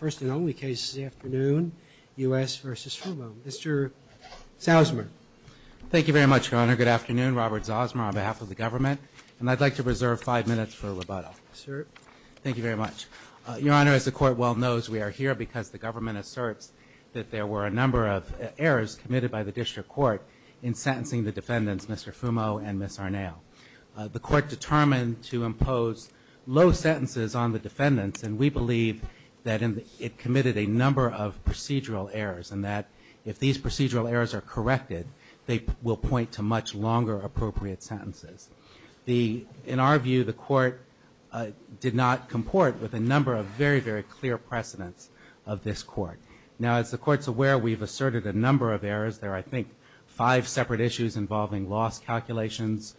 First and only case this afternoon, U.S. v. Fumo. Mr. Zausmer. Thank you very much, Your Honor. Good afternoon. Robert Zausmer on behalf of the government. And I'd like to reserve five minutes for rebuttal. Sir. Thank you very much. Your Honor, as the Court well knows, we are here because the government asserts that there were a number of errors committed by the District Court in sentencing the defendants, Mr. Fumo and Ms. Arnao. The Court determined to impose low sentences on the defendants, and we believe that it committed a number of procedural errors, and that if these procedural errors are corrected, they will point to much longer appropriate sentences. In our view, the Court did not comport with a number of very, very clear precedents of this Court. Now, as the Court's aware, we've asserted a number of errors. There are, I suppose, involving loss calculations,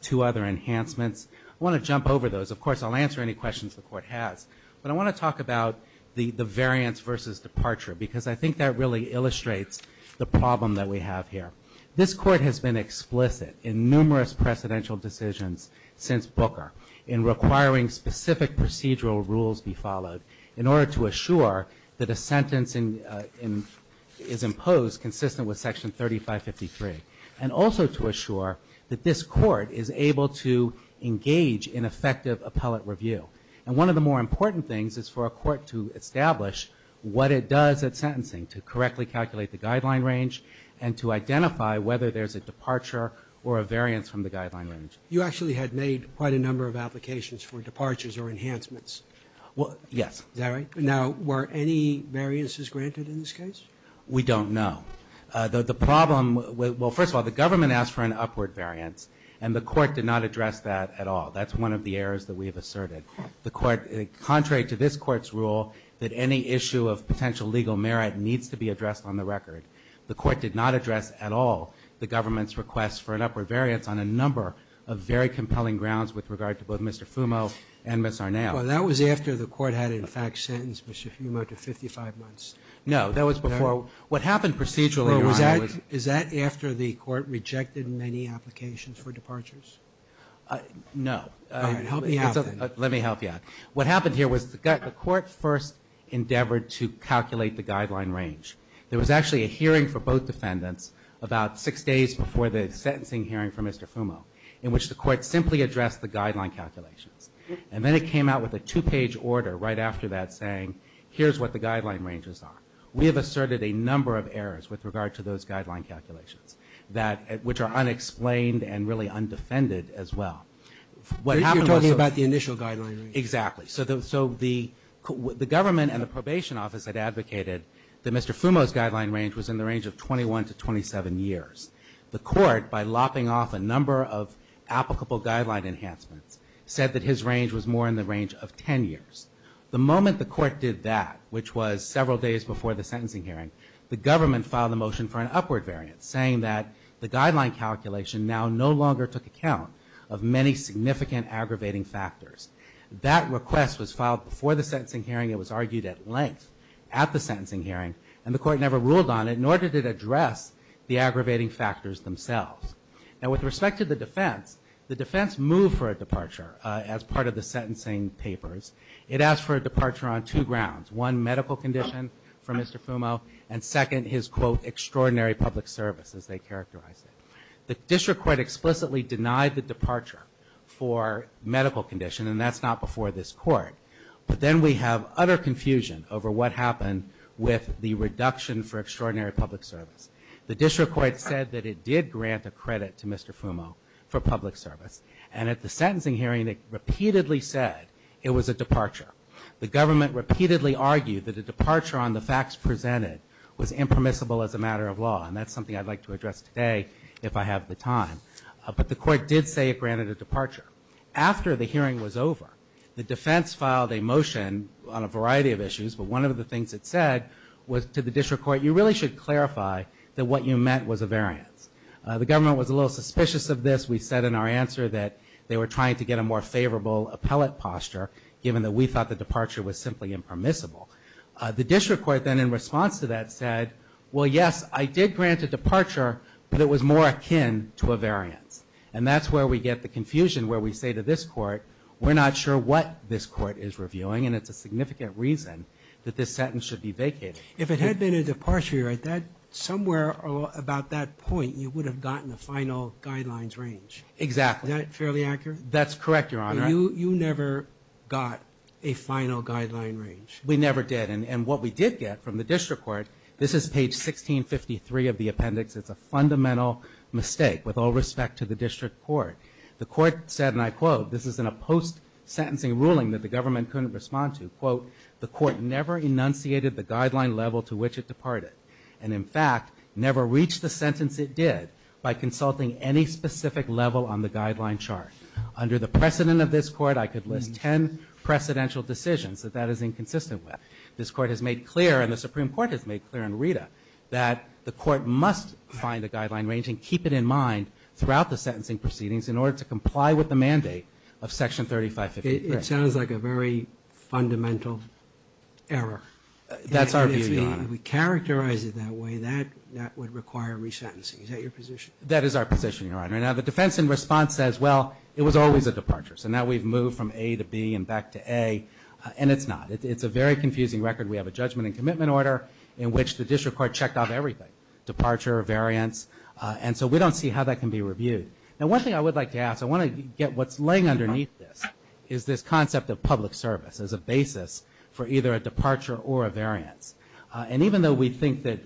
two other enhancements. I want to jump over those. Of course, I'll answer any questions the Court has. But I want to talk about the variance versus departure, because I think that really illustrates the problem that we have here. This Court has been explicit in numerous precedential decisions since Booker in requiring specific procedural rules be followed in order to assure that a sentence is imposed consistent with the statute. But also to assure that this Court is able to engage in effective appellate review. And one of the more important things is for a Court to establish what it does at sentencing to correctly calculate the guideline range and to identify whether there's a departure or a variance from the guideline range. You actually had made quite a number of applications for departures or enhancements. Well, yes. Is that right? Now, were any variances granted in this case? We don't know. The problem, well, first of all, the Government asked for an upward variance, and the Court did not address that at all. That's one of the errors that we have asserted. The Court, contrary to this Court's rule, that any issue of potential legal merit needs to be addressed on the record. The Court did not address at all the Government's request for an upward variance on a number of very compelling grounds with regard to both Mr. Fumo and Ms. Arnao. Well, that was after the Court had, in fact, sentenced Mr. Fumo to 55 months. No, that was before. What happened procedurally, Your Honor, was... Is that after the Court rejected many applications for departures? No. All right, help me out then. Let me help you out. What happened here was the Court first endeavored to calculate the guideline range. There was actually a hearing for both defendants about six days before the sentencing hearing for Mr. Fumo in which the Court simply addressed the guideline calculations. And then it came out with a two-page order right after that saying, here's what the guideline ranges are. We have asserted a number of errors with regard to those guideline calculations which are unexplained and really undefended as well. You're talking about the initial guideline range? Exactly. So the Government and the Probation Office had advocated that Mr. Fumo's guideline range was in the range of 21 to 27 years. The Court, by lopping off a number of applicable guideline enhancements, said that his range was more in the range of 10 years. The moment the Court did that, which was several days before the sentencing hearing, the Government filed a motion for an upward variant saying that the guideline calculation now no longer took account of many significant aggravating factors. That request was filed before the sentencing hearing. It was argued at length at the sentencing hearing and the Court never ruled on it, nor did it address the aggravating factors themselves. Now with respect to the defense, the defense moved for a departure as part of the sentencing papers. It asked for a departure on two grounds. One, medical condition for Mr. Fumo, and second, his quote, extraordinary public service as they characterized it. The District Court explicitly denied the departure for medical condition and that's not before this Court. But then we have utter confusion over what happened with the reduction for extraordinary public service. The District Court said that it did grant a credit to Mr. Fumo for public service, and at the sentencing hearing it repeatedly said it was a departure. The Government repeatedly argued that a departure on the facts presented was impermissible as a matter of law, and that's something I'd like to address today if I have the time. But the Court did say it granted a departure. After the hearing was over, the defense filed a motion on a variety of issues, but one of the things it said was to the District Court, you really should clarify that what you meant was a variance. The Government was a little suspicious of this. We said in our answer that they were trying to get a more favorable appellate posture given that we thought the departure was simply impermissible. The District Court then in response to that said, well yes, I did grant a departure, but it was more akin to a variance. And that's where we get the confusion where we say to this Court, we're not sure what this Court is reviewing and it's a significant reason that this sentence should be vacated. If it had been a departure, somewhere about that point, you would have gotten the final guidelines range. Exactly. Is that fairly accurate? That's correct, Your Honor. You never got a final guideline range. We never did. And what we did get from the District Court, this is page 1653 of the appendix, it's a fundamental mistake with all respect to the District Court. The Court said, and I quote, this is in a post-sentencing ruling that the Government couldn't respond to, quote, the Court never enunciated the guideline level to which it departed. And in fact, never reached the sentence it did by consulting any specific level on the guideline chart. Under the precedent of this Court, I could list ten precedential decisions that that is inconsistent with. This Court has made clear, and the Supreme Court has made clear in Rita, that the Court must find a guideline range and keep it in mind throughout the sentencing proceedings in order to comply with the mandate of Section 3553. It sounds like a very fundamental error. That's our view, Your Honor. If we characterize it that way, that would require resentencing. Is that your position? That is our position, Your Honor. Now the defense in response says, well, it was always a departure. So now we've moved from A to B and back to A, and it's not. It's a very confusing record. We have a judgment and commitment order in which the District Court checked off everything, departure, variance. And so we don't see how that can be reviewed. Now one thing I would like to ask, I want to get what's laying underneath this, is this concept of public service as a basis for either a departure or a variance. And even though we think that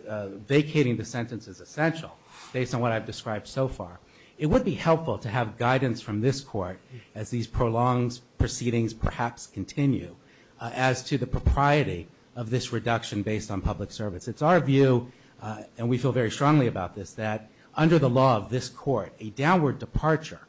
vacating the sentence is essential, based on what I've described so far, it would be helpful to have guidance from this Court as these prolonged proceedings perhaps continue as to the propriety of this reduction based on public service. It's our view, and we feel very strongly about this, that under the law of this Court, a downward departure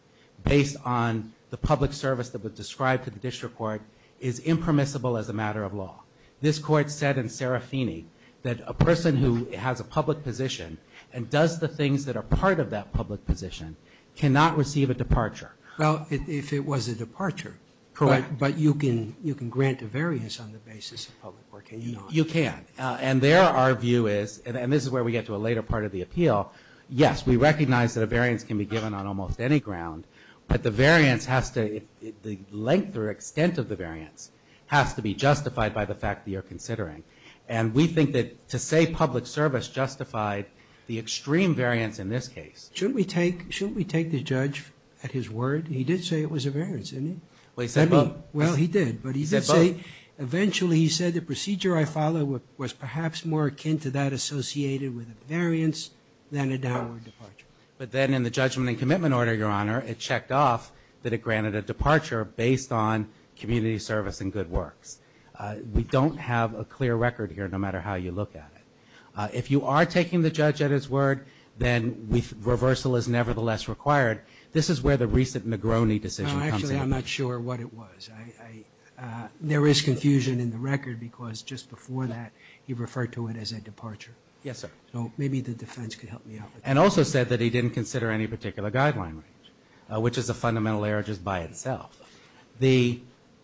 based on the public service that was described to the District Court is impermissible as a matter of law. This Court said in Serafini that a person who has a public position and does the things that are part of that public position cannot receive a departure. Well, if it was a departure, but you can grant a variance on the basis of public work, can you not? You can. And there our view is, and this is where we get to a later part of the appeal, well, yes, we recognize that a variance can be given on almost any ground, but the variance has to, the length or extent of the variance has to be justified by the fact that you're considering. And we think that to say public service justified the extreme variance in this case. Shouldn't we take, shouldn't we take the judge at his word? He did say it was a variance, didn't he? Well, he said both. Well, he did, but he did say, eventually he said the procedure I follow was perhaps more than a downward departure. But then in the judgment and commitment order, Your Honor, it checked off that it granted a departure based on community service and good works. We don't have a clear record here no matter how you look at it. If you are taking the judge at his word, then reversal is nevertheless required. This is where the recent Negroni decision comes in. No, actually, I'm not sure what it was. I, I, there is confusion in the record because just before that he referred to it as a departure. Yes, sir. So maybe the defense could help me out with that. And also said that he didn't consider any particular guideline range, which is a fundamental error just by itself. The,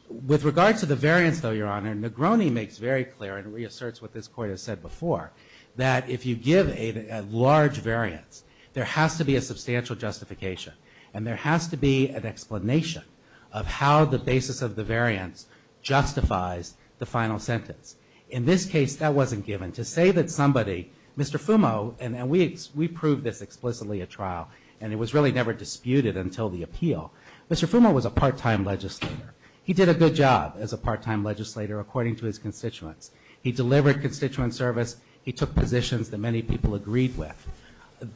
with regard to the variance though, Your Honor, Negroni makes very clear and reasserts what this Court has said before, that if you give a, a large variance, there has to be a substantial justification and there has to be an explanation of how the basis of the variance justifies the final sentence. In this case, that wasn't given. To say that somebody, Mr. Fumo, and, and we, we proved this explicitly at trial and it was really never disputed until the appeal. Mr. Fumo was a part-time legislator. He did a good job as a part-time legislator according to his constituents. He delivered constituent service. He took positions that many people agreed with.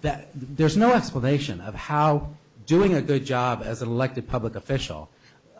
That, there's no explanation of how doing a good job as an elected public official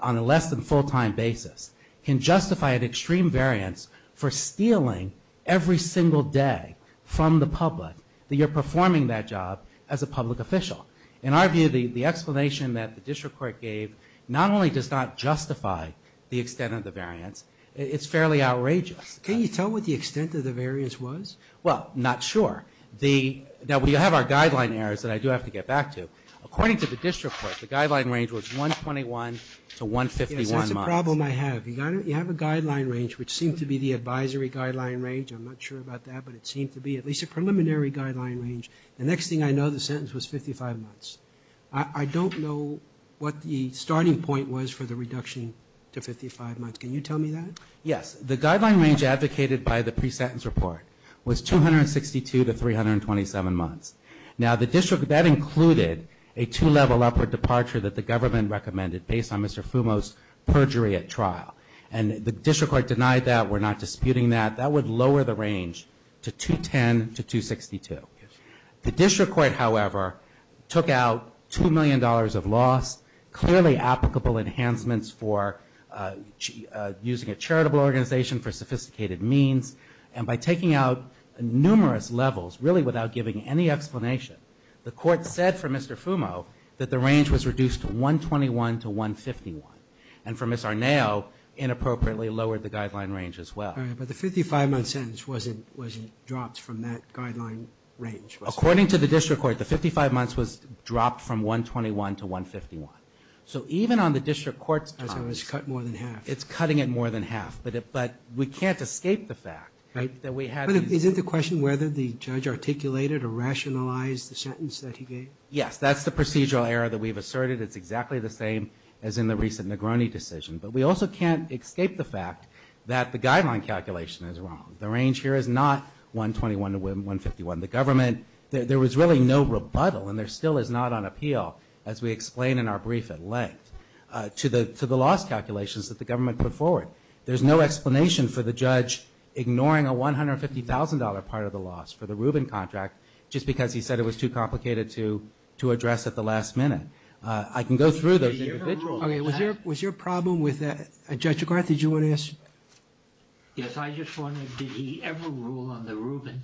on a less than full-time basis can justify an extreme variance for stealing every single day from the public, that you're performing that job as a public official. In our view, the, the explanation that the district court gave not only does not justify the extent of the variance, it's fairly outrageous. Can you tell what the extent of the variance was? Well, not sure. The, now we have our guideline errors that I do have to get back to. According to the district court, the guideline range was 121 to 151 months. That's the problem I have. You got, you have a guideline range which seemed to be the advisory guideline range. I'm not sure about that, but it seemed to be at least a preliminary guideline range. The next thing I know, the sentence was 55 months. I, I don't know what the starting point was for the reduction to 55 months. Can you tell me that? Yes. The guideline range advocated by the pre-sentence report was 262 to 327 months. Now the district, that included a two-level upward departure that the government recommended based on Mr. Fumo's perjury at trial. And the district court denied that. We're not disputing that. That would lower the range to 210 to 262. The district court, however, took out $2 million of loss, clearly applicable enhancements for using a charitable organization for sophisticated means. And by taking out numerous levels, really without giving any guidance, it lowered the guideline range to 151. And for Ms. Arnao, inappropriately lowered the guideline range as well. All right. But the 55-month sentence wasn't, wasn't dropped from that guideline range. According to the district court, the 55 months was dropped from 121 to 151. So even on the district court's time... So it was cut more than half. It's cutting it more than half. But it, but we can't escape the fact that we had... But is it the question whether the judge articulated or rationalized the sentence that he gave? Yes. That's the procedural error that we've asserted. It's exactly the same as in the recent Negroni decision. But we also can't escape the fact that the guideline calculation is wrong. The range here is not 121 to 151. The government, there was really no rebuttal and there still is not on appeal, as we explain in our brief at length, to the, to the loss calculations that the government put forward. There's no explanation for the judge ignoring a $150,000 part of the loss for the Rubin contract just because he said it was too complicated to, to address at the last minute. I can go through those individuals. Okay. Was there, was your problem with that? Judge McCarthy, did you want to ask? Yes. I just wondered, did he ever rule on the Rubin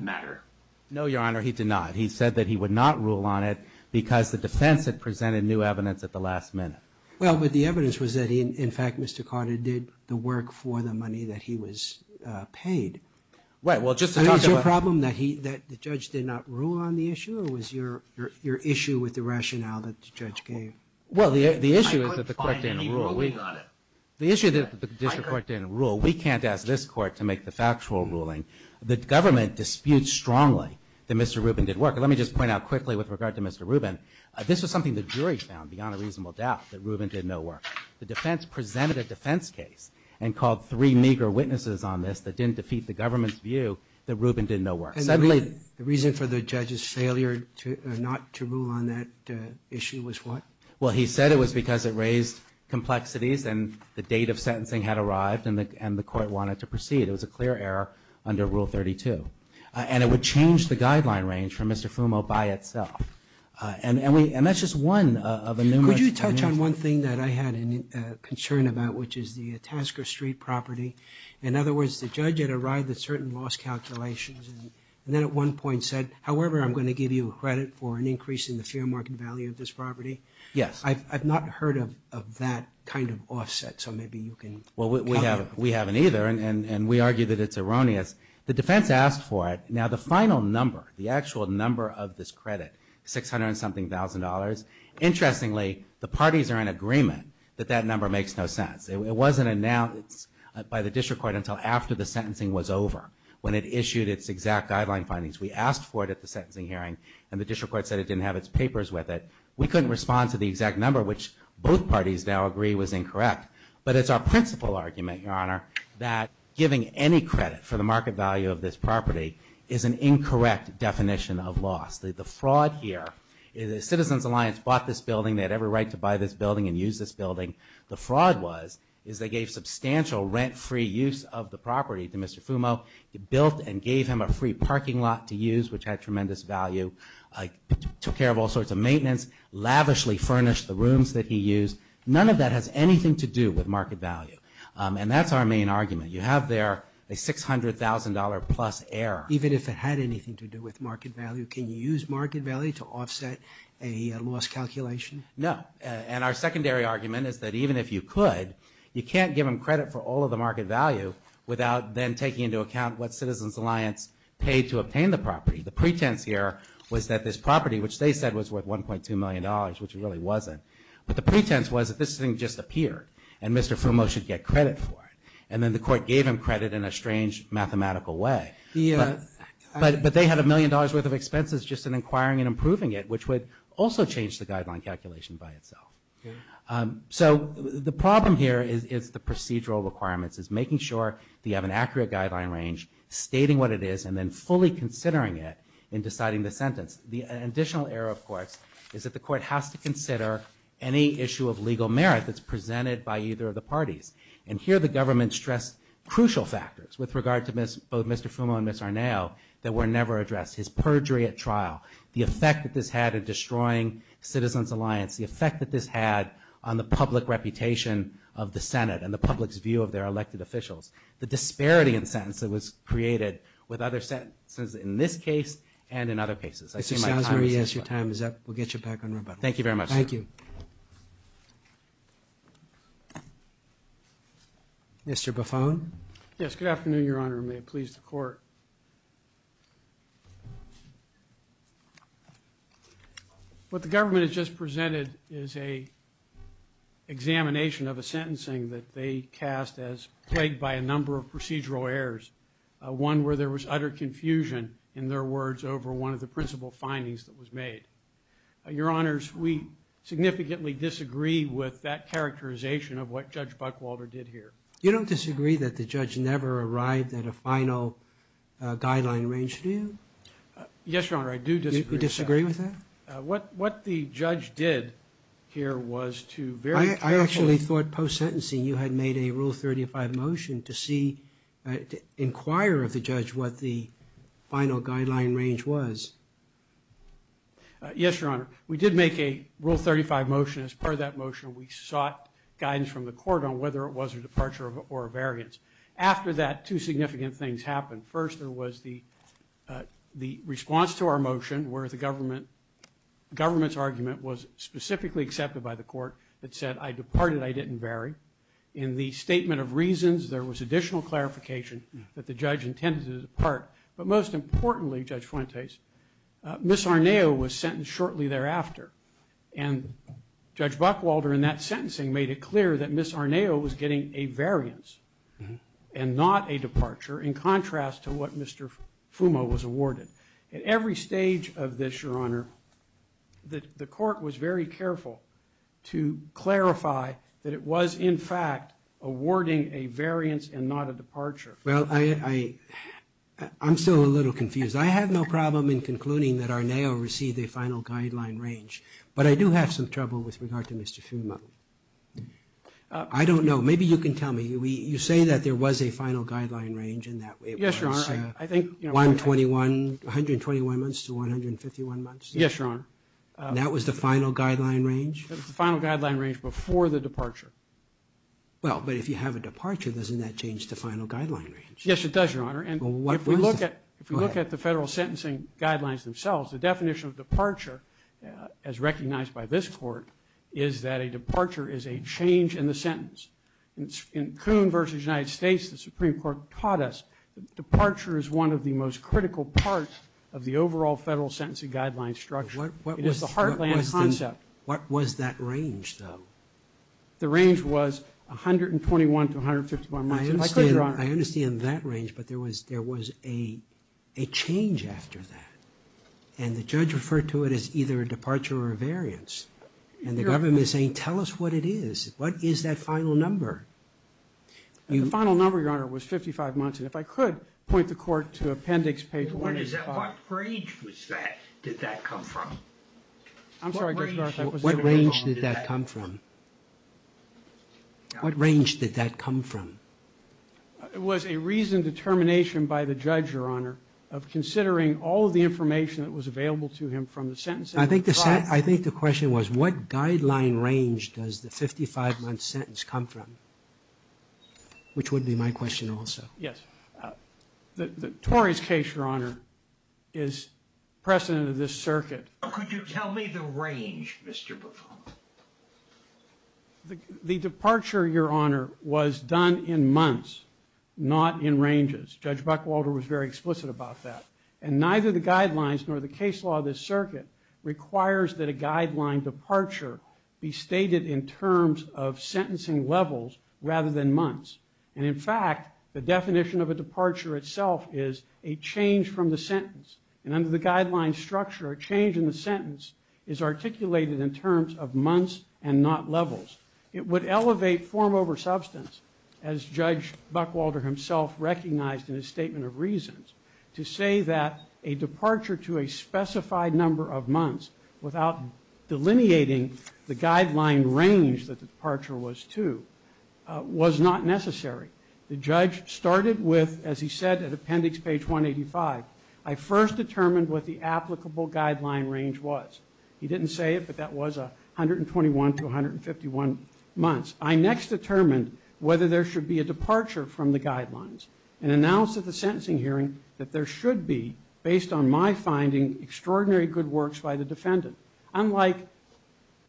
matter? No, Your Honor. He did not. He said that he would not rule on it because the defense had presented new evidence at the last minute. Well, but the evidence was that he, in fact, Mr. Carter did the work for the money that he was paid. Right. Well, just to talk about... Did the district did not rule on the issue or was your, your, your issue with the rationale that the judge gave? Well, the, the issue is that the court didn't rule. We... I couldn't find any ruling on it. The issue is that the district court didn't rule. We can't ask this court to make the factual ruling. The government disputes strongly that Mr. Rubin did work. Let me just point out quickly with regard to Mr. Rubin, this was something the jury found beyond a reasonable doubt that Rubin did no work. The defense presented a defense case and called three meager witnesses on this that didn't defeat the government's view that Rubin did no work. Suddenly... And the reason for the judge's failure to, not to rule on that issue was what? Well, he said it was because it raised complexities and the date of sentencing had arrived and the, and the court wanted to proceed. It was a clear error under Rule 32. And it would change the guideline range for Mr. Fumo by itself. And, and we, and that's just one of a numerous... Could you touch on one thing that I had a concern about, which is the Tasker Street property. In other words, the judge had arrived at certain loss calculations and then at one point said, however, I'm going to give you credit for an increase in the fair market value of this property. Yes. I've, I've not heard of, of that kind of offset. So maybe you can... Well, we have, we haven't either. And, and, and we argue that it's erroneous. The defense asked for it. Now the final number, the actual number of this credit, 600 and something thousand dollars. Interestingly, the parties are in agreement that that number makes no sense. It wasn't announced by the district court until after the sentencing was over, when it issued its exact guideline findings. We asked for it at the sentencing hearing and the district court said it didn't have its papers with it. We couldn't respond to the exact number, which both parties now agree was incorrect. But it's our principal argument, Your Honor, that giving any credit for the market value of this property is an incorrect definition of loss. The, the fraud here is the Citizens Alliance bought this building. They had every right to buy this building and use this building. The fraud was, is they gave substantial rent-free use of the property to Mr. Fumo. They built and gave him a free parking lot to use, which had tremendous value. Took care of all sorts of maintenance. Lavishly furnished the rooms that he used. None of that has anything to do with market value. And that's our main argument. You have there a $600,000 plus error. Even if it had anything to do with market value, can you use market value to offset a loss calculation? No. And our secondary argument is that even if you could, you can't give him credit for all of the market value without then taking into account what Citizens Alliance paid to obtain the property. The pretense here was that this property, which they said was worth $1.2 million, which it really wasn't. But the pretense was that this thing just appeared and Mr. Fumo should get credit for it. And then the court gave him credit in a strange mathematical way. But, but they had a million dollars worth of expenses just in inquiring and improving it, which would also change the guideline calculation by itself. So the problem here is the procedural requirements, is making sure that you have an accurate guideline range, stating what it is, and then fully considering it in deciding the sentence. The additional error, of course, is that the court has to consider any issue of legal merit that's presented by either of the parties. And here the government stressed crucial factors with regard to both Mr. Fumo and Ms. Arnao that were never addressed. His perjury at trial, the effect that this had in destroying Citizens Alliance, the effect that this had on the public reputation of the Senate and the public's view of their elected officials, the disparity in sentence that was created with other sentences in this case and in other cases. I see my time is up. Mr. Sanzari, yes, your time is up. We'll get you back on rebuttal. Thank you very much, sir. Thank you. Mr. Buffone. Yes, good afternoon, Your Honor. May it please the Court. What the government has just presented is an examination of a sentencing that they cast as plagued by a number of procedural errors, one where there was utter confusion, in their words, over one of the principal findings that was made. Your Honors, we significantly disagree with that characterization of what Judge Buckwalder did here. You don't disagree that the judge never arrived at a final guideline range, do you? Yes, Your Honor, I do disagree with that. You disagree with that? What the judge did here was to very carefully – I actually thought post-sentencing you had made a Rule 35 motion to see – to inquire of the judge what the final guideline range was. Yes, Your Honor. We did make a Rule 35 motion. As part of that motion, we sought guidance from the Court on whether it was a departure or a variance. After that, two significant things happened. First, there was the response to our motion where the government's argument was specifically accepted by the Court. It said, I departed, I didn't vary. In the statement of reasons, there was additional clarification that the judge intended to depart. But most importantly, Judge Fuentes, Ms. Arneo was sentenced shortly thereafter. And Judge Buckwalder, in that sentencing, made it clear that Ms. Arneo was getting a variance and not a departure, in contrast to what Mr. Fumo was awarded. At every stage of this, Your Honor, the Court was very careful to clarify that it was, in fact, awarding a variance and not a departure. Well, I'm still a little confused. I have no problem in concluding that Arneo received a final guideline range. But I do have some trouble with regard to Mr. Fumo. I don't know. Maybe you can tell me. You say that there was a final guideline range and that it was 121, 121 months to 151 months? Yes, Your Honor. That was the final guideline range? That was the final guideline range before the departure. Well, but if you have a departure, doesn't that change the final guideline range? Yes, it does, Your Honor. And if we look at the federal sentencing guidelines themselves, the definition of departure, as recognized by this Court, is that a departure is a change in the sentence. In Kuhn v. United States, the Supreme Court taught us that departure is one of the most critical parts of the overall federal sentencing guideline structure. It is the heartland concept. What was that range, though? The range was 121 to 151 months, if I could, Your Honor. I understand that range, but there was a change after that. And the judge referred to it as either a departure or a variance. And the government is saying, tell us what it is. What is that final number? The final number, Your Honor, was 55 months. And if I could point the Court to Appendix page 1. What range was that? Did that come from? I'm sorry, Judge Garza. What range did that come from? It was a reasoned determination by the judge, Your Honor, of considering all of the information that was available to him from the sentencing guidelines. I think the question was, what guideline range does the 55-month sentence come from? Which would be my question also. Yes. The Tories' case, Your Honor, is precedent of this circuit. Could you tell me the range, Mr. Buffon? The departure, Your Honor, was done in months, not in ranges. Judge Buckwalter was very explicit about that. And neither the guidelines nor the case law of this circuit requires that a guideline departure be stated in terms of sentencing levels rather than months. And in fact, the definition of a departure itself is a change from the sentence. And under the guideline structure, a change in the sentence is articulated in terms of months and not levels. It would elevate form over substance, as Judge Buckwalter himself recognized in his statement of reasons, to say that a departure to a specified number of months without delineating the guideline range that the departure was to was not necessary. The judge started with, as he said at appendix page 185, I first determined what the applicable guideline range was. He didn't say it, but that was 121 to 151 months. I next determined whether there should be a departure from the guidelines and announced at the sentencing hearing that there should be, based on my finding, extraordinary good works by the defendant. Unlike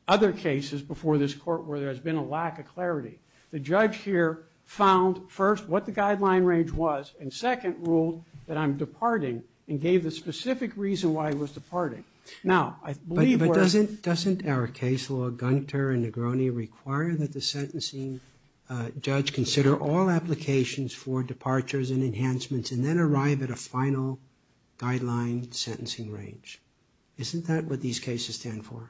other cases before this Court where there has been a lack of clarity, the judge here found, first, what the guideline range was, and second, ruled that I'm departing and gave the specific reason why I was departing. Now, I believe where – But doesn't our case law, Gunter and Negroni, require that the sentencing judge consider all applications for departures and enhancements and then arrive at a final guideline sentencing range? Isn't that what these cases stand for?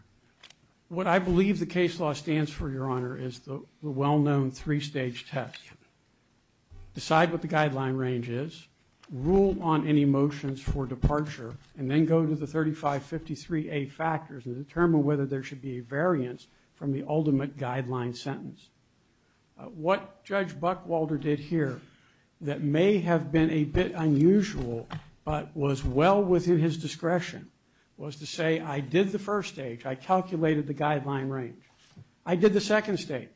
What I believe the case law stands for, Your Honor, is the well-known three-stage test. Decide what the guideline range is, rule on any motions for departure, and then go to the 3553A factors and determine whether there should be a variance from the ultimate guideline sentence. What Judge Buckwalder did here that may have been a bit unusual but was well within his discretion was to say I did the first stage, I calculated the guideline range. I did the second stage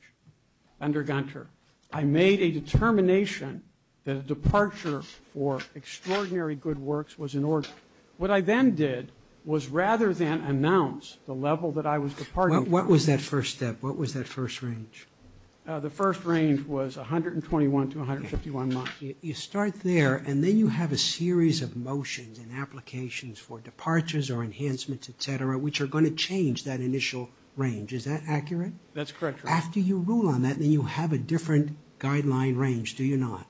under Gunter. I made a determination that a departure for extraordinary good works was in order. What I then did was rather than announce the level that I was departing from – What was that first step? What was that first range? The first range was 121 to 151 months. You start there and then you have a series of motions and applications for departures or enhancements, et cetera, which are going to change that initial range. Is that accurate? That's correct, Your Honor. After you rule on that, then you have a different guideline range, do you not?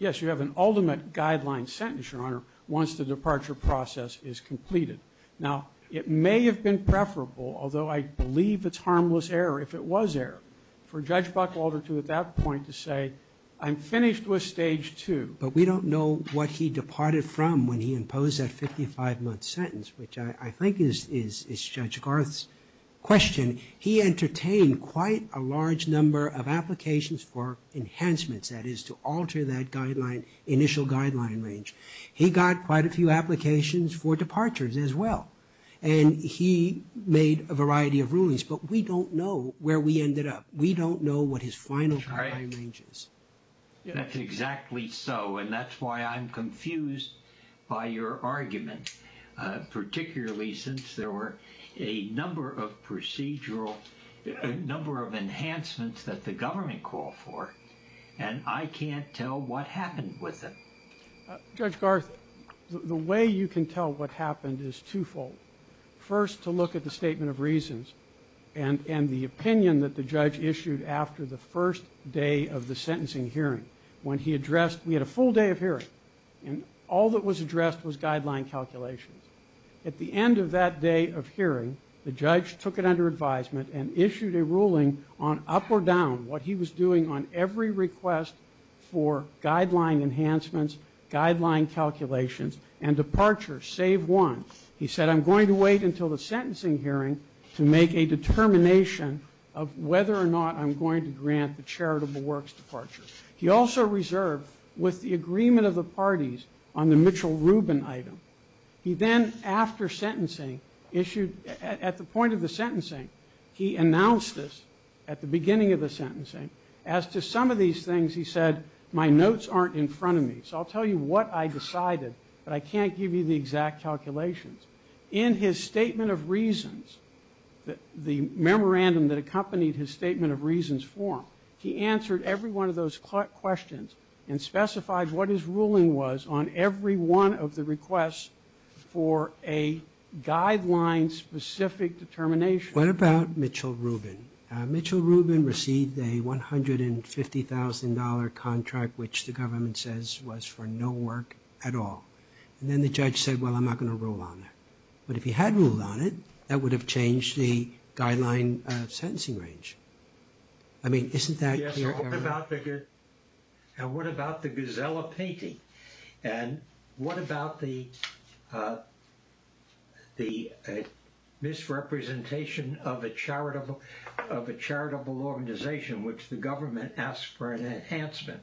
Yes, you have an ultimate guideline sentence, Your Honor, once the departure process is completed. Now, it may have been preferable, although I believe it's harmless error if it was error, for Judge Buckwalter to, at that point, to say I'm finished with stage two. But we don't know what he departed from when he imposed that 55-month sentence, which I think is Judge Garth's question. He entertained quite a large number of applications for enhancements, that is to alter that initial guideline range. He got quite a few applications for departures as well, and he made a variety of rulings. But we don't know where we ended up. We don't know what his final guideline range is. That's exactly so, and that's why I'm confused by your argument, particularly since there were a number of enhancements that the government called for, and I can't tell what happened with them. Judge Garth, the way you can tell what happened is twofold. First, to look at the statement of reasons and the opinion that the judge issued after the first day of the sentencing hearing. When he addressed, we had a full day of hearing, and all that was addressed was guideline calculations. At the end of that day of hearing, the judge took it under advisement and issued a ruling on up or down what he was doing on every request for guideline enhancements, guideline calculations, and departure, save one. He said, I'm going to wait until the sentencing hearing to make a determination of whether or not I'm going to grant the charitable works departure. He also reserved with the agreement of the parties on the Mitchell-Rubin item. He then, after sentencing, issued at the point of the sentencing, he announced this at the beginning of the sentencing. As to some of these things, he said, my notes aren't in front of me, so I'll tell you what I decided, but I can't give you the exact calculations. In his statement of reasons, the memorandum that accompanied his statement of reasons form, he answered every one of those questions and specified what his ruling was on every one of the requests for a guideline-specific determination. What about Mitchell-Rubin? Mitchell-Rubin received a $150,000 contract, which the government says was for no work at all. And then the judge said, well, I'm not going to rule on it. But if he had ruled on it, that would have changed the guideline sentencing range. I mean, isn't that clear? And what about the Guzzella painting? And what about the misrepresentation of a charitable organization, which the government asked for an enhancement?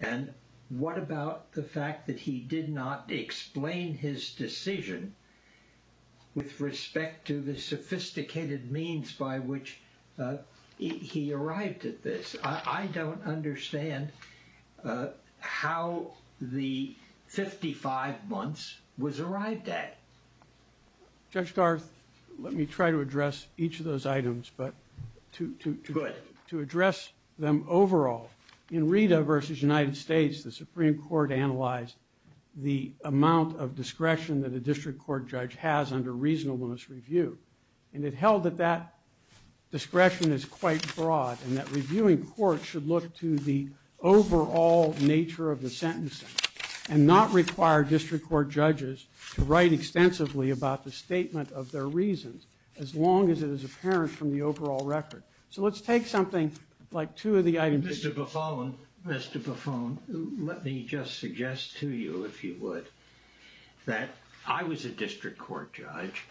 And what about the fact that he did not explain his decision with respect to the sophisticated means by which he arrived at this? I don't understand how the 55 months was arrived at. Judge Garth, let me try to address each of those items, but to address them overall. In Rita v. United States, the Supreme Court analyzed the amount of discretion that a district court judge has under reasonableness review. And it held that that discretion is quite broad and that reviewing courts should look to the overall nature of the sentencing and not require district court judges to write extensively about the statement of their reasons, as long as it is apparent from the overall record. So let's take something like two of the items. Mr. Buffone, let me just suggest to you, if you would, that I was a district court judge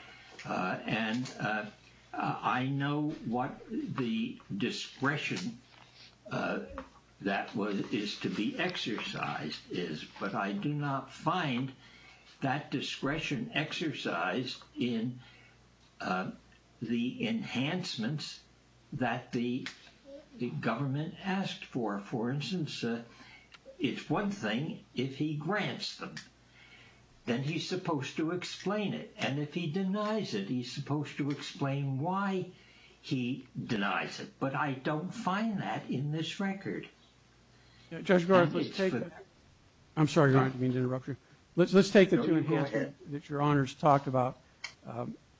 and I know what the discretion that is to be exercised is, but I do not find that discretion exercised in the enhancements that the government asked for. For instance, it's one thing if he grants them. Then he's supposed to explain it. And if he denies it, he's supposed to explain why he denies it. But I don't find that in this record. Judge Garland, let's take the two enhancements that your honors talked about,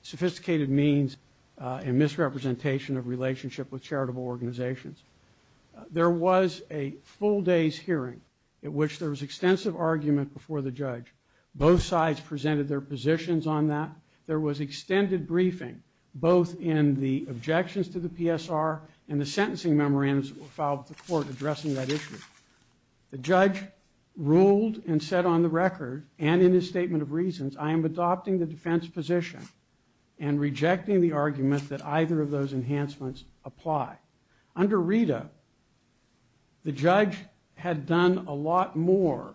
sophisticated means and misrepresentation of relationship with charitable organizations. There was a full day's hearing in which there was extensive argument before the judge. Both sides presented their positions on that. There was extended briefing both in the objections to the PSR and the sentencing memorandums filed with the court addressing that issue. The judge ruled and said on the record and in his statement of reasons, I am adopting the defense position and rejecting the argument that either of those enhancements apply. Under RETA, the judge had done a lot more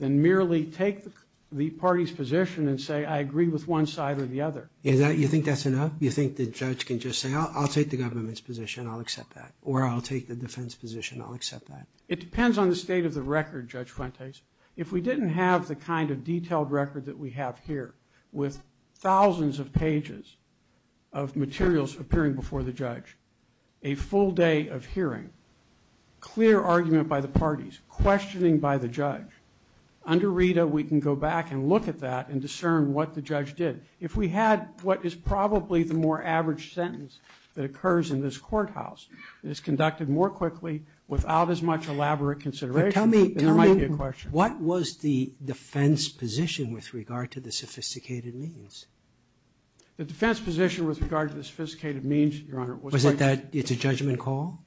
than merely take the party's position and say I agree with one side or the other. You think that's enough? You think the judge can just say I'll take the government's position, I'll accept that, or I'll take the defense position, I'll accept that? It depends on the state of the record, Judge Fuentes. If we didn't have the kind of detailed record that we have here with thousands of pages of materials appearing before the judge, a full day of hearing, clear argument by the parties, questioning by the judge, under RETA we can go back and look at that and discern what the judge did. If we had what is probably the more average sentence that occurs in this courthouse, it is conducted more quickly without as much elaborate consideration. There might be a question. What was the defense position with regard to the sophisticated means? The defense position with regard to the sophisticated means, Your Honor, Was it that it's a judgment call?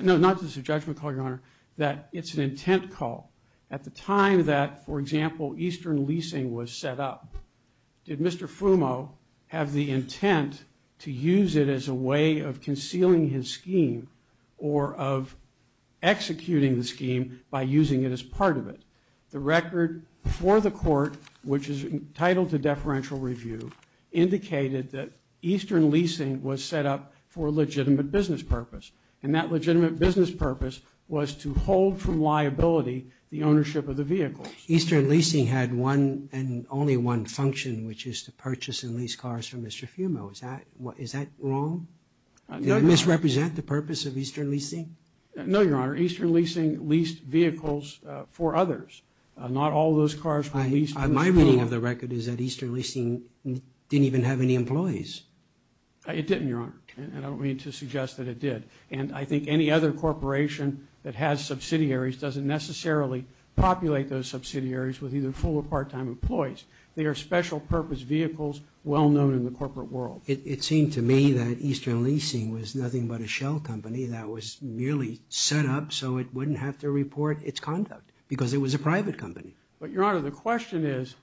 No, not that it's a judgment call, Your Honor. That it's an intent call. At the time that, for example, eastern leasing was set up, did Mr. Fumo have the intent to use it as a way of concealing his scheme or of executing the scheme by using it as part of it? The record before the court, which is entitled to deferential review, indicated that eastern leasing was set up for a legitimate business purpose, and that legitimate business purpose was to hold from liability the ownership of the vehicle. Eastern leasing had one and only one function, which is to purchase and lease cars from Mr. Fumo. Is that wrong? Did it misrepresent the purpose of eastern leasing? No, Your Honor. Eastern leasing leased vehicles for others. Not all those cars were leased. My reading of the record is that eastern leasing didn't even have any employees. It didn't, Your Honor, and I don't mean to suggest that it did. And I think any other corporation that has subsidiaries doesn't necessarily populate those subsidiaries with either full or part-time employees. They are special purpose vehicles well known in the corporate world. It seemed to me that eastern leasing was nothing but a shell company that was merely set up so it wouldn't have to report its conduct because it was a private company. But, Your Honor, the question is,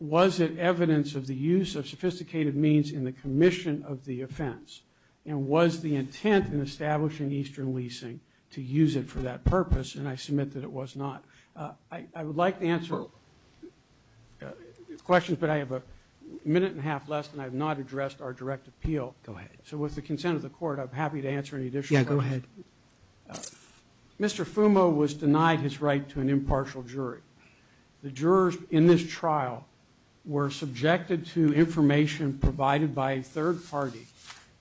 was it evidence of the use of sophisticated means in the commission of the offense? And was the intent in establishing eastern leasing to use it for that purpose? And I submit that it was not. I would like to answer questions, but I have a minute and a half less, and I have not addressed our direct appeal. Go ahead. So with the consent of the court, I'm happy to answer any additional questions. Yeah, go ahead. Mr. Fumo was denied his right to an impartial jury. The jurors in this trial were subjected to information provided by a third party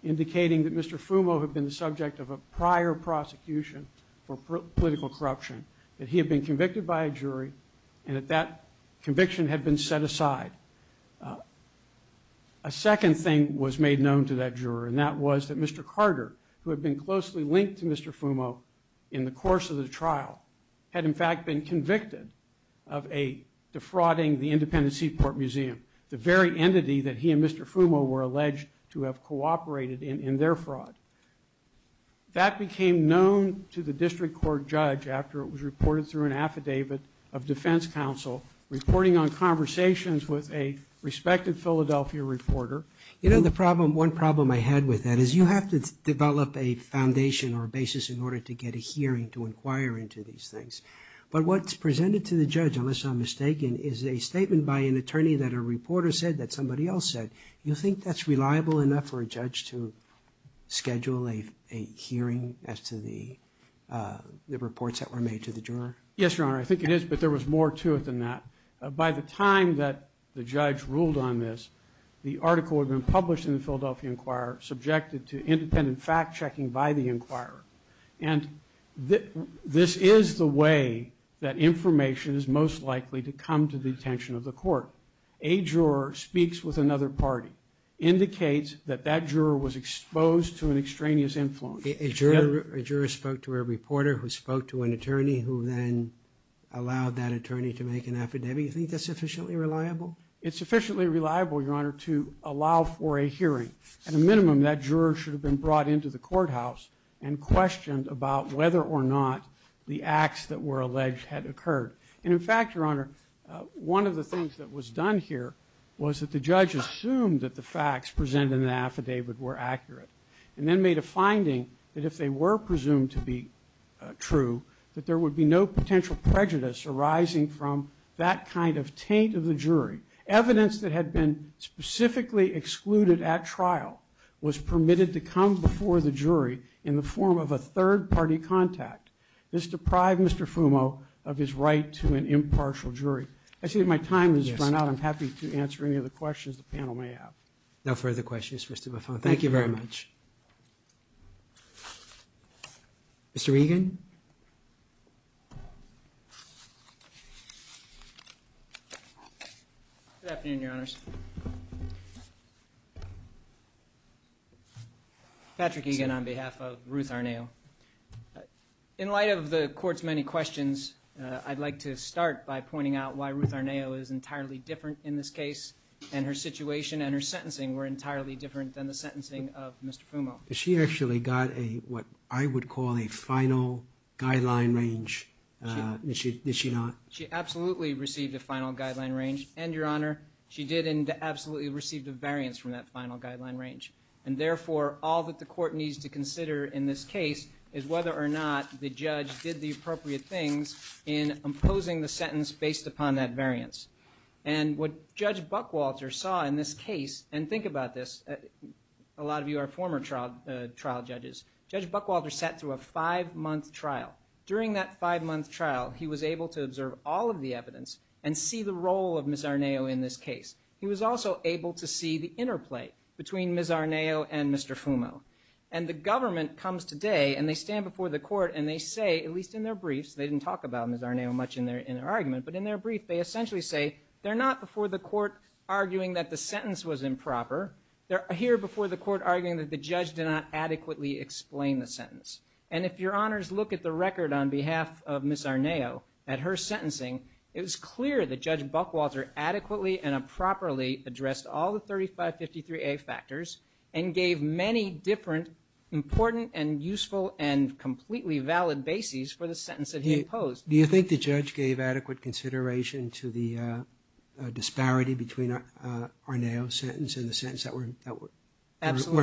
indicating that Mr. Fumo had been the subject of a prior prosecution for political corruption, that he had been convicted by a jury, and that that conviction had been set aside. A second thing was made known to that juror, and that was that Mr. Carter, who had been closely linked to Mr. Fumo in the course of the trial, had in fact been convicted of defrauding the Independent Seaport Museum, the very entity that he and Mr. Fumo were alleged to have cooperated in in their fraud. That became known to the district court judge after it was reported through an affidavit of defense counsel, reporting on conversations with a respected Philadelphia reporter. You know, the problem, one problem I had with that is you have to develop a foundation or a basis in order to get a hearing to inquire into these things. But what's presented to the judge, unless I'm mistaken, is a statement by an attorney that a reporter said that somebody else said. You think that's reliable enough for a judge to schedule a hearing as to the reports that were made to the juror? Yes, Your Honor, I think it is, but there was more to it than that. By the time that the judge ruled on this, the article had been published in the Philadelphia Inquirer, subjected to independent fact-checking by the inquirer. And this is the way that information is most likely to come to the attention of the court. A juror speaks with another party, indicates that that juror was exposed to an extraneous influence. A juror spoke to a reporter who spoke to an attorney who then allowed that attorney to make an affidavit. You think that's sufficiently reliable? It's sufficiently reliable, Your Honor, to allow for a hearing. At a minimum, that juror should have been brought into the courthouse and questioned about whether or not the acts that were alleged had occurred. And, in fact, Your Honor, one of the things that was done here was that the judge assumed that the facts presented in the affidavit were accurate and then made a finding that if they were presumed to be true, that there would be no potential prejudice arising from that kind of taint of the jury. Evidence that had been specifically excluded at trial was permitted to come before the jury in the form of a third-party contact. This deprived Mr. Fumo of his right to an impartial jury. I see that my time has run out. I'm happy to answer any other questions the panel may have. No further questions, Mr. Buffone. Thank you very much. Mr. Egan. Good afternoon, Your Honors. Patrick Egan on behalf of Ruth Arnao. In light of the Court's many questions, I'd like to start by pointing out why Ruth Arnao is entirely different in this case, and her situation and her sentencing were entirely different than the sentencing of Mr. Fumo. She actually got what I would call a final guideline range, did she not? She absolutely received a final guideline range, and, Your Honor, she did absolutely receive a variance from that final guideline range. And therefore, all that the Court needs to consider in this case is whether or not the judge did the appropriate things in imposing the sentence based upon that variance. And what Judge Buckwalter saw in this case, and think about this, a lot of you are former trial judges. Judge Buckwalter sat through a five-month trial. During that five-month trial, he was able to observe all of the evidence and see the role of Ms. Arnao in this case. He was also able to see the interplay between Ms. Arnao and Mr. Fumo. And the government comes today, and they stand before the Court, and they say, at least in their briefs, they didn't talk about Ms. Arnao much in their argument. But in their brief, they essentially say, they're not before the Court arguing that the sentence was improper. They're here before the Court arguing that the judge did not adequately explain the sentence. And if Your Honors look at the record on behalf of Ms. Arnao, at her sentencing, it was clear that Judge Buckwalter adequately and appropriately addressed all the 3553A factors and gave many different important and useful and completely valid bases for the sentence that he imposed. Do you think the judge gave adequate consideration to the disparity between Arnao's sentence and the sentence that were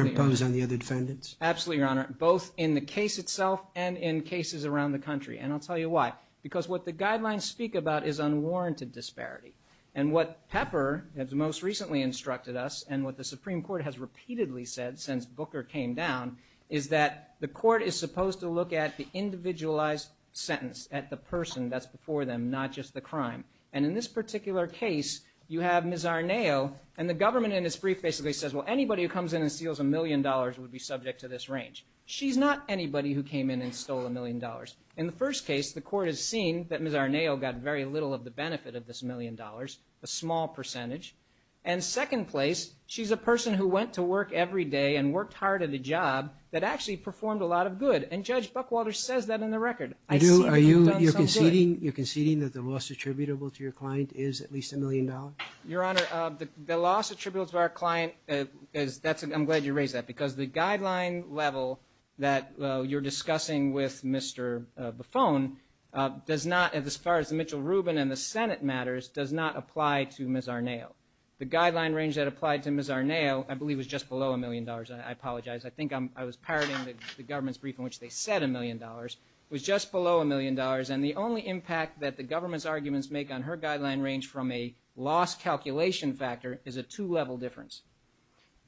imposed on the other defendants? Absolutely, Your Honor, both in the case itself and in cases around the country. And I'll tell you why. Because what the guidelines speak about is unwarranted disparity. And what Pepper has most recently instructed us, and what the Supreme Court has repeatedly said since Booker came down, is that the Court is supposed to look at the individualized sentence, at the person that's before them, not just the crime. And in this particular case, you have Ms. Arnao, and the government in its brief basically says, well, anybody who comes in and steals a million dollars would be subject to this range. She's not anybody who came in and stole a million dollars. In the first case, the Court has seen that Ms. Arnao got very little of the benefit of this million dollars, a small percentage. And second place, she's a person who went to work every day and worked hard at a job that actually performed a lot of good. And Judge Buckwalter says that in the record. Are you conceding that the loss attributable to your client is at least a million dollars? Your Honor, the loss attributable to our client, I'm glad you raised that, because the guideline level that you're discussing with Mr. Buffone, as far as the Mitchell-Rubin and the Senate matters, does not apply to Ms. Arnao. The guideline range that applied to Ms. Arnao I believe was just below a million dollars. I apologize. I think I was parroting the government's brief in which they said a million dollars. It was just below a million dollars. And the only impact that the government's arguments make on her guideline range from a loss calculation factor is a two-level difference.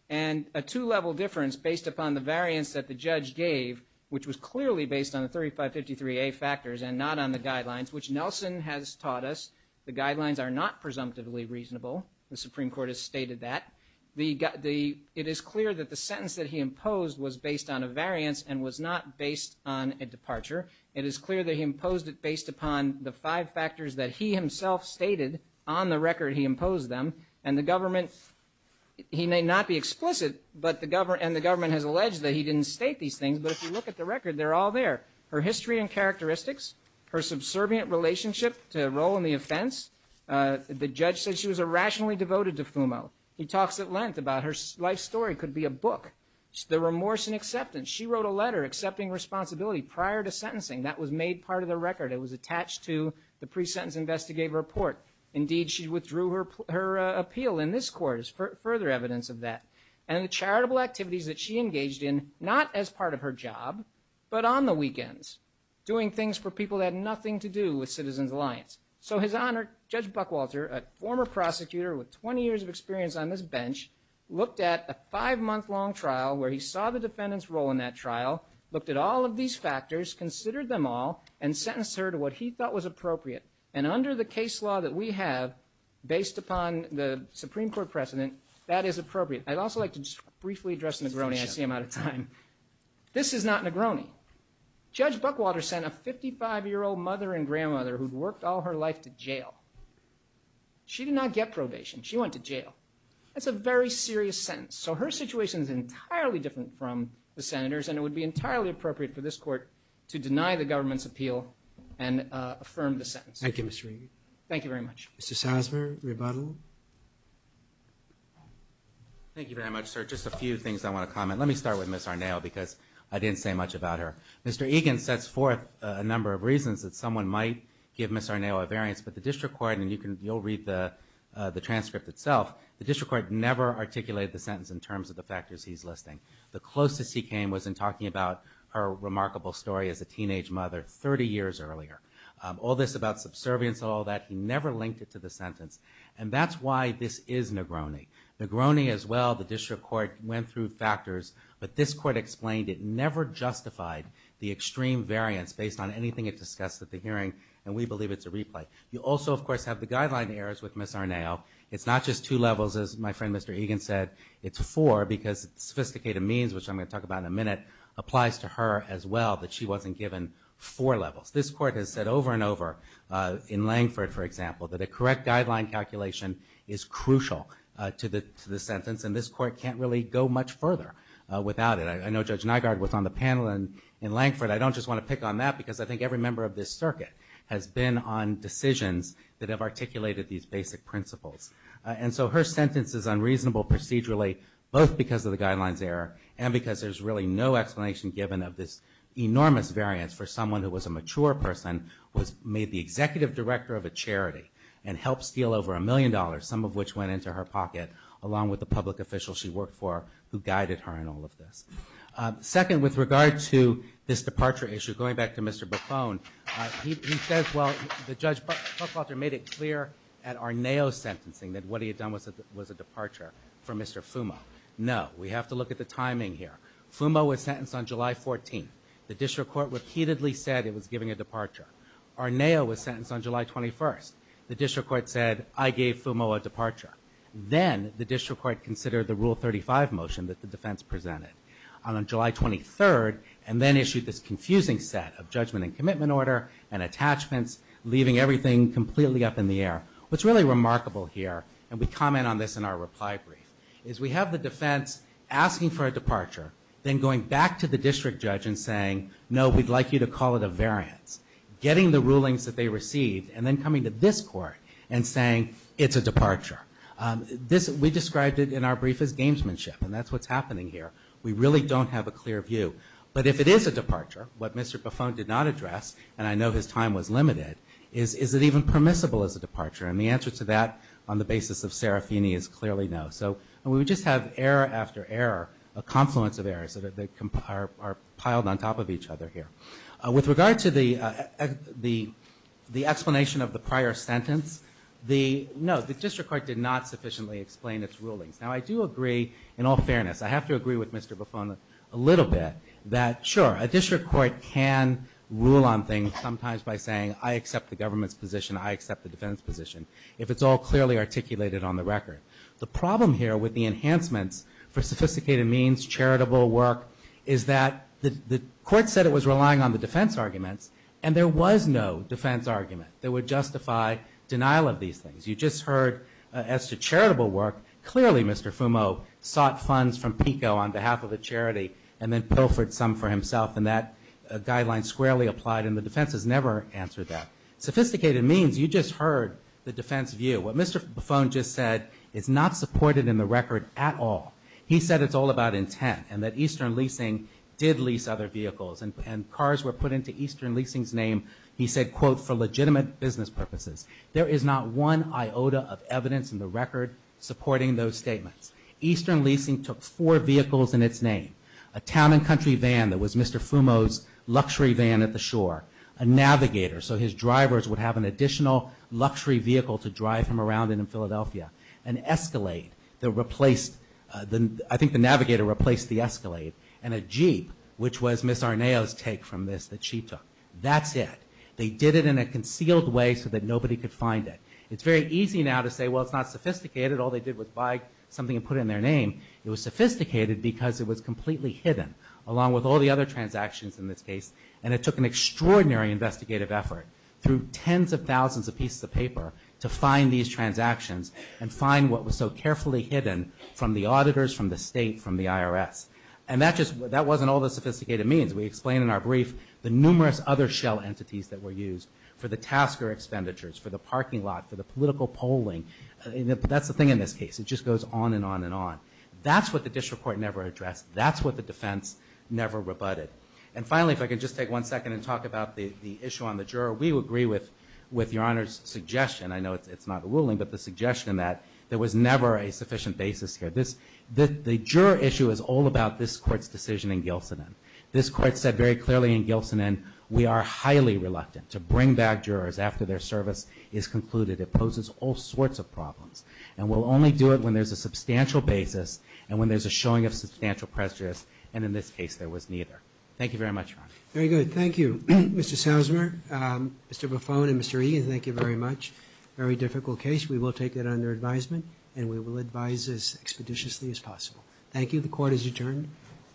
And a two-level difference based upon the variance that the judge gave, which was clearly based on the 3553A factors and not on the guidelines, which Nelson has taught us, the guidelines are not presumptively reasonable. The Supreme Court has stated that. It is clear that the sentence that he imposed was based on a variance and was not based on a departure. It is clear that he imposed it based upon the five factors that he himself stated on the record he imposed them. And the government, he may not be explicit, and the government has alleged that he didn't state these things, but if you look at the record, they're all there. Her history and characteristics, her subservient relationship to her role in the offense. The judge said she was irrationally devoted to Fumo. He talks at length about her life story could be a book. The remorse and acceptance. She wrote a letter accepting responsibility prior to sentencing. That was made part of the record. It was attached to the pre-sentence investigative report. Indeed, she withdrew her appeal in this court as further evidence of that. And the charitable activities that she engaged in, not as part of her job, but on the weekends. Doing things for people that had nothing to do with Citizens Alliance. So his Honor, Judge Buckwalter, a former prosecutor with 20 years of experience on this bench, looked at a five-month-long trial where he saw the defendant's role in that trial, looked at all of these factors, considered them all, and sentenced her to what he thought was appropriate. And under the case law that we have, based upon the Supreme Court precedent, that is appropriate. I'd also like to just briefly address Negroni. I see I'm out of time. This is not Negroni. Judge Buckwalter sent a 55-year-old mother and grandmother who'd worked all her life to jail. She did not get probation. She went to jail. That's a very serious sentence. So her situation is entirely different from the senator's, and it would be entirely appropriate for this Court to deny the government's appeal and affirm the sentence. Thank you, Mr. Egan. Thank you very much. Mr. Salzberg, rebuttal. Thank you very much, sir. Just a few things I want to comment. Let me start with Ms. Arnao because I didn't say much about her. Mr. Egan sets forth a number of reasons that someone might give Ms. Arnao a variance, but the district court, and you'll read the transcript itself, the district court never articulated the sentence in terms of the factors he's listing. The closest he came was in talking about her remarkable story as a teenage mother 30 years earlier. All this about subservience and all that, he never linked it to the sentence, and that's why this is Negroni. Negroni as well, the district court went through factors, but this court explained it never justified the extreme variance based on anything it discussed at the hearing, and we believe it's a replay. You also, of course, have the guideline errors with Ms. Arnao. It's not just two levels, as my friend Mr. Egan said. It's four because sophisticated means, which I'm going to talk about in a minute, applies to her as well that she wasn't given four levels. This court has said over and over in Langford, for example, that a correct guideline calculation is crucial to the sentence, and this court can't really go much further without it. I know Judge Nygaard was on the panel in Langford. I don't just want to pick on that because I think every member of this circuit has been on decisions that have articulated these basic principles. And so her sentence is unreasonable procedurally both because of the guidelines error and because there's really no explanation given of this enormous variance for someone who was a mature person, was made the executive director of a charity, and helped steal over a million dollars, some of which went into her pocket, along with the public officials she worked for who guided her in all of this. Second, with regard to this departure issue, going back to Mr. Buffone, he says, well, the judge made it clear at Arneo's sentencing that what he had done was a departure for Mr. Fumo. No, we have to look at the timing here. Fumo was sentenced on July 14th. The district court repeatedly said it was giving a departure. Arneo was sentenced on July 21st. The district court said, I gave Fumo a departure. Then the district court considered the Rule 35 motion that the defense presented on July 23rd and then issued this confusing set of judgment and commitment order and attachments, leaving everything completely up in the air. What's really remarkable here, and we comment on this in our reply brief, is we have the defense asking for a departure, then going back to the district judge and saying, no, we'd like you to call it a variance, getting the rulings that they received, and then coming to this court and saying, it's a departure. We described it in our brief as gamesmanship, and that's what's happening here. We really don't have a clear view. But if it is a departure, what Mr. Buffone did not address, and I know his time was limited, is is it even permissible as a departure? And the answer to that on the basis of Serafini is clearly no. So we just have error after error, a confluence of errors that are piled on top of each other here. With regard to the explanation of the prior sentence, no, the district court did not sufficiently explain its rulings. Now, I do agree in all fairness. I have to agree with Mr. Buffone a little bit that, sure, a district court can rule on things sometimes by saying, I accept the government's position, I accept the defense position, if it's all clearly articulated on the record. The problem here with the enhancements for sophisticated means, charitable work, is that the court said it was relying on the defense arguments, and there was no defense argument that would justify denial of these things. You just heard as to charitable work, clearly Mr. Fumo sought funds from PICO on behalf of the charity and then pilfered some for himself, and that guideline squarely applied, and the defense has never answered that. Sophisticated means, you just heard the defense view. What Mr. Buffone just said is not supported in the record at all. He said it's all about intent and that Eastern Leasing did lease other vehicles, and cars were put into Eastern Leasing's name, he said, quote, for legitimate business purposes. There is not one iota of evidence in the record supporting those statements. Eastern Leasing took four vehicles in its name, a town and country van that was Mr. Fumo's luxury van at the shore, a navigator, so his drivers would have an additional luxury vehicle to drive them around in Philadelphia, an escalade that replaced, I think the navigator replaced the escalade, and a jeep, which was Ms. Arnao's take from this that she took. That's it. They did it in a concealed way so that nobody could find it. It's very easy now to say, well, it's not sophisticated. All they did was buy something and put it in their name. It was sophisticated because it was completely hidden, along with all the other transactions in this case, and it took an extraordinary investigative effort through tens of thousands of pieces of paper to find these transactions and find what was so carefully hidden from the auditors, from the state, from the IRS, and that wasn't all that sophisticated means. We explain in our brief the numerous other shell entities that were used for the tasker expenditures, for the parking lot, for the political polling. That's the thing in this case. It just goes on and on and on. That's what the district court never addressed. That's what the defense never rebutted. And finally, if I could just take one second and talk about the issue on the juror. We agree with Your Honor's suggestion. I know it's not ruling, but the suggestion that there was never a sufficient basis here. The juror issue is all about this court's decision in Gilson. This court said very clearly in Gilson, and we are highly reluctant to bring back jurors after their service is concluded. It poses all sorts of problems, and we'll only do it when there's a substantial basis and when there's a showing of substantial prejudice, and in this case there was neither. Thank you very much, Your Honor. Very good. Thank you, Mr. Sousmer, Mr. Buffone, and Mr. Egan. Thank you very much. Very difficult case. We will take it under advisement, and we will advise as expeditiously as possible. Thank you. The court is adjourned.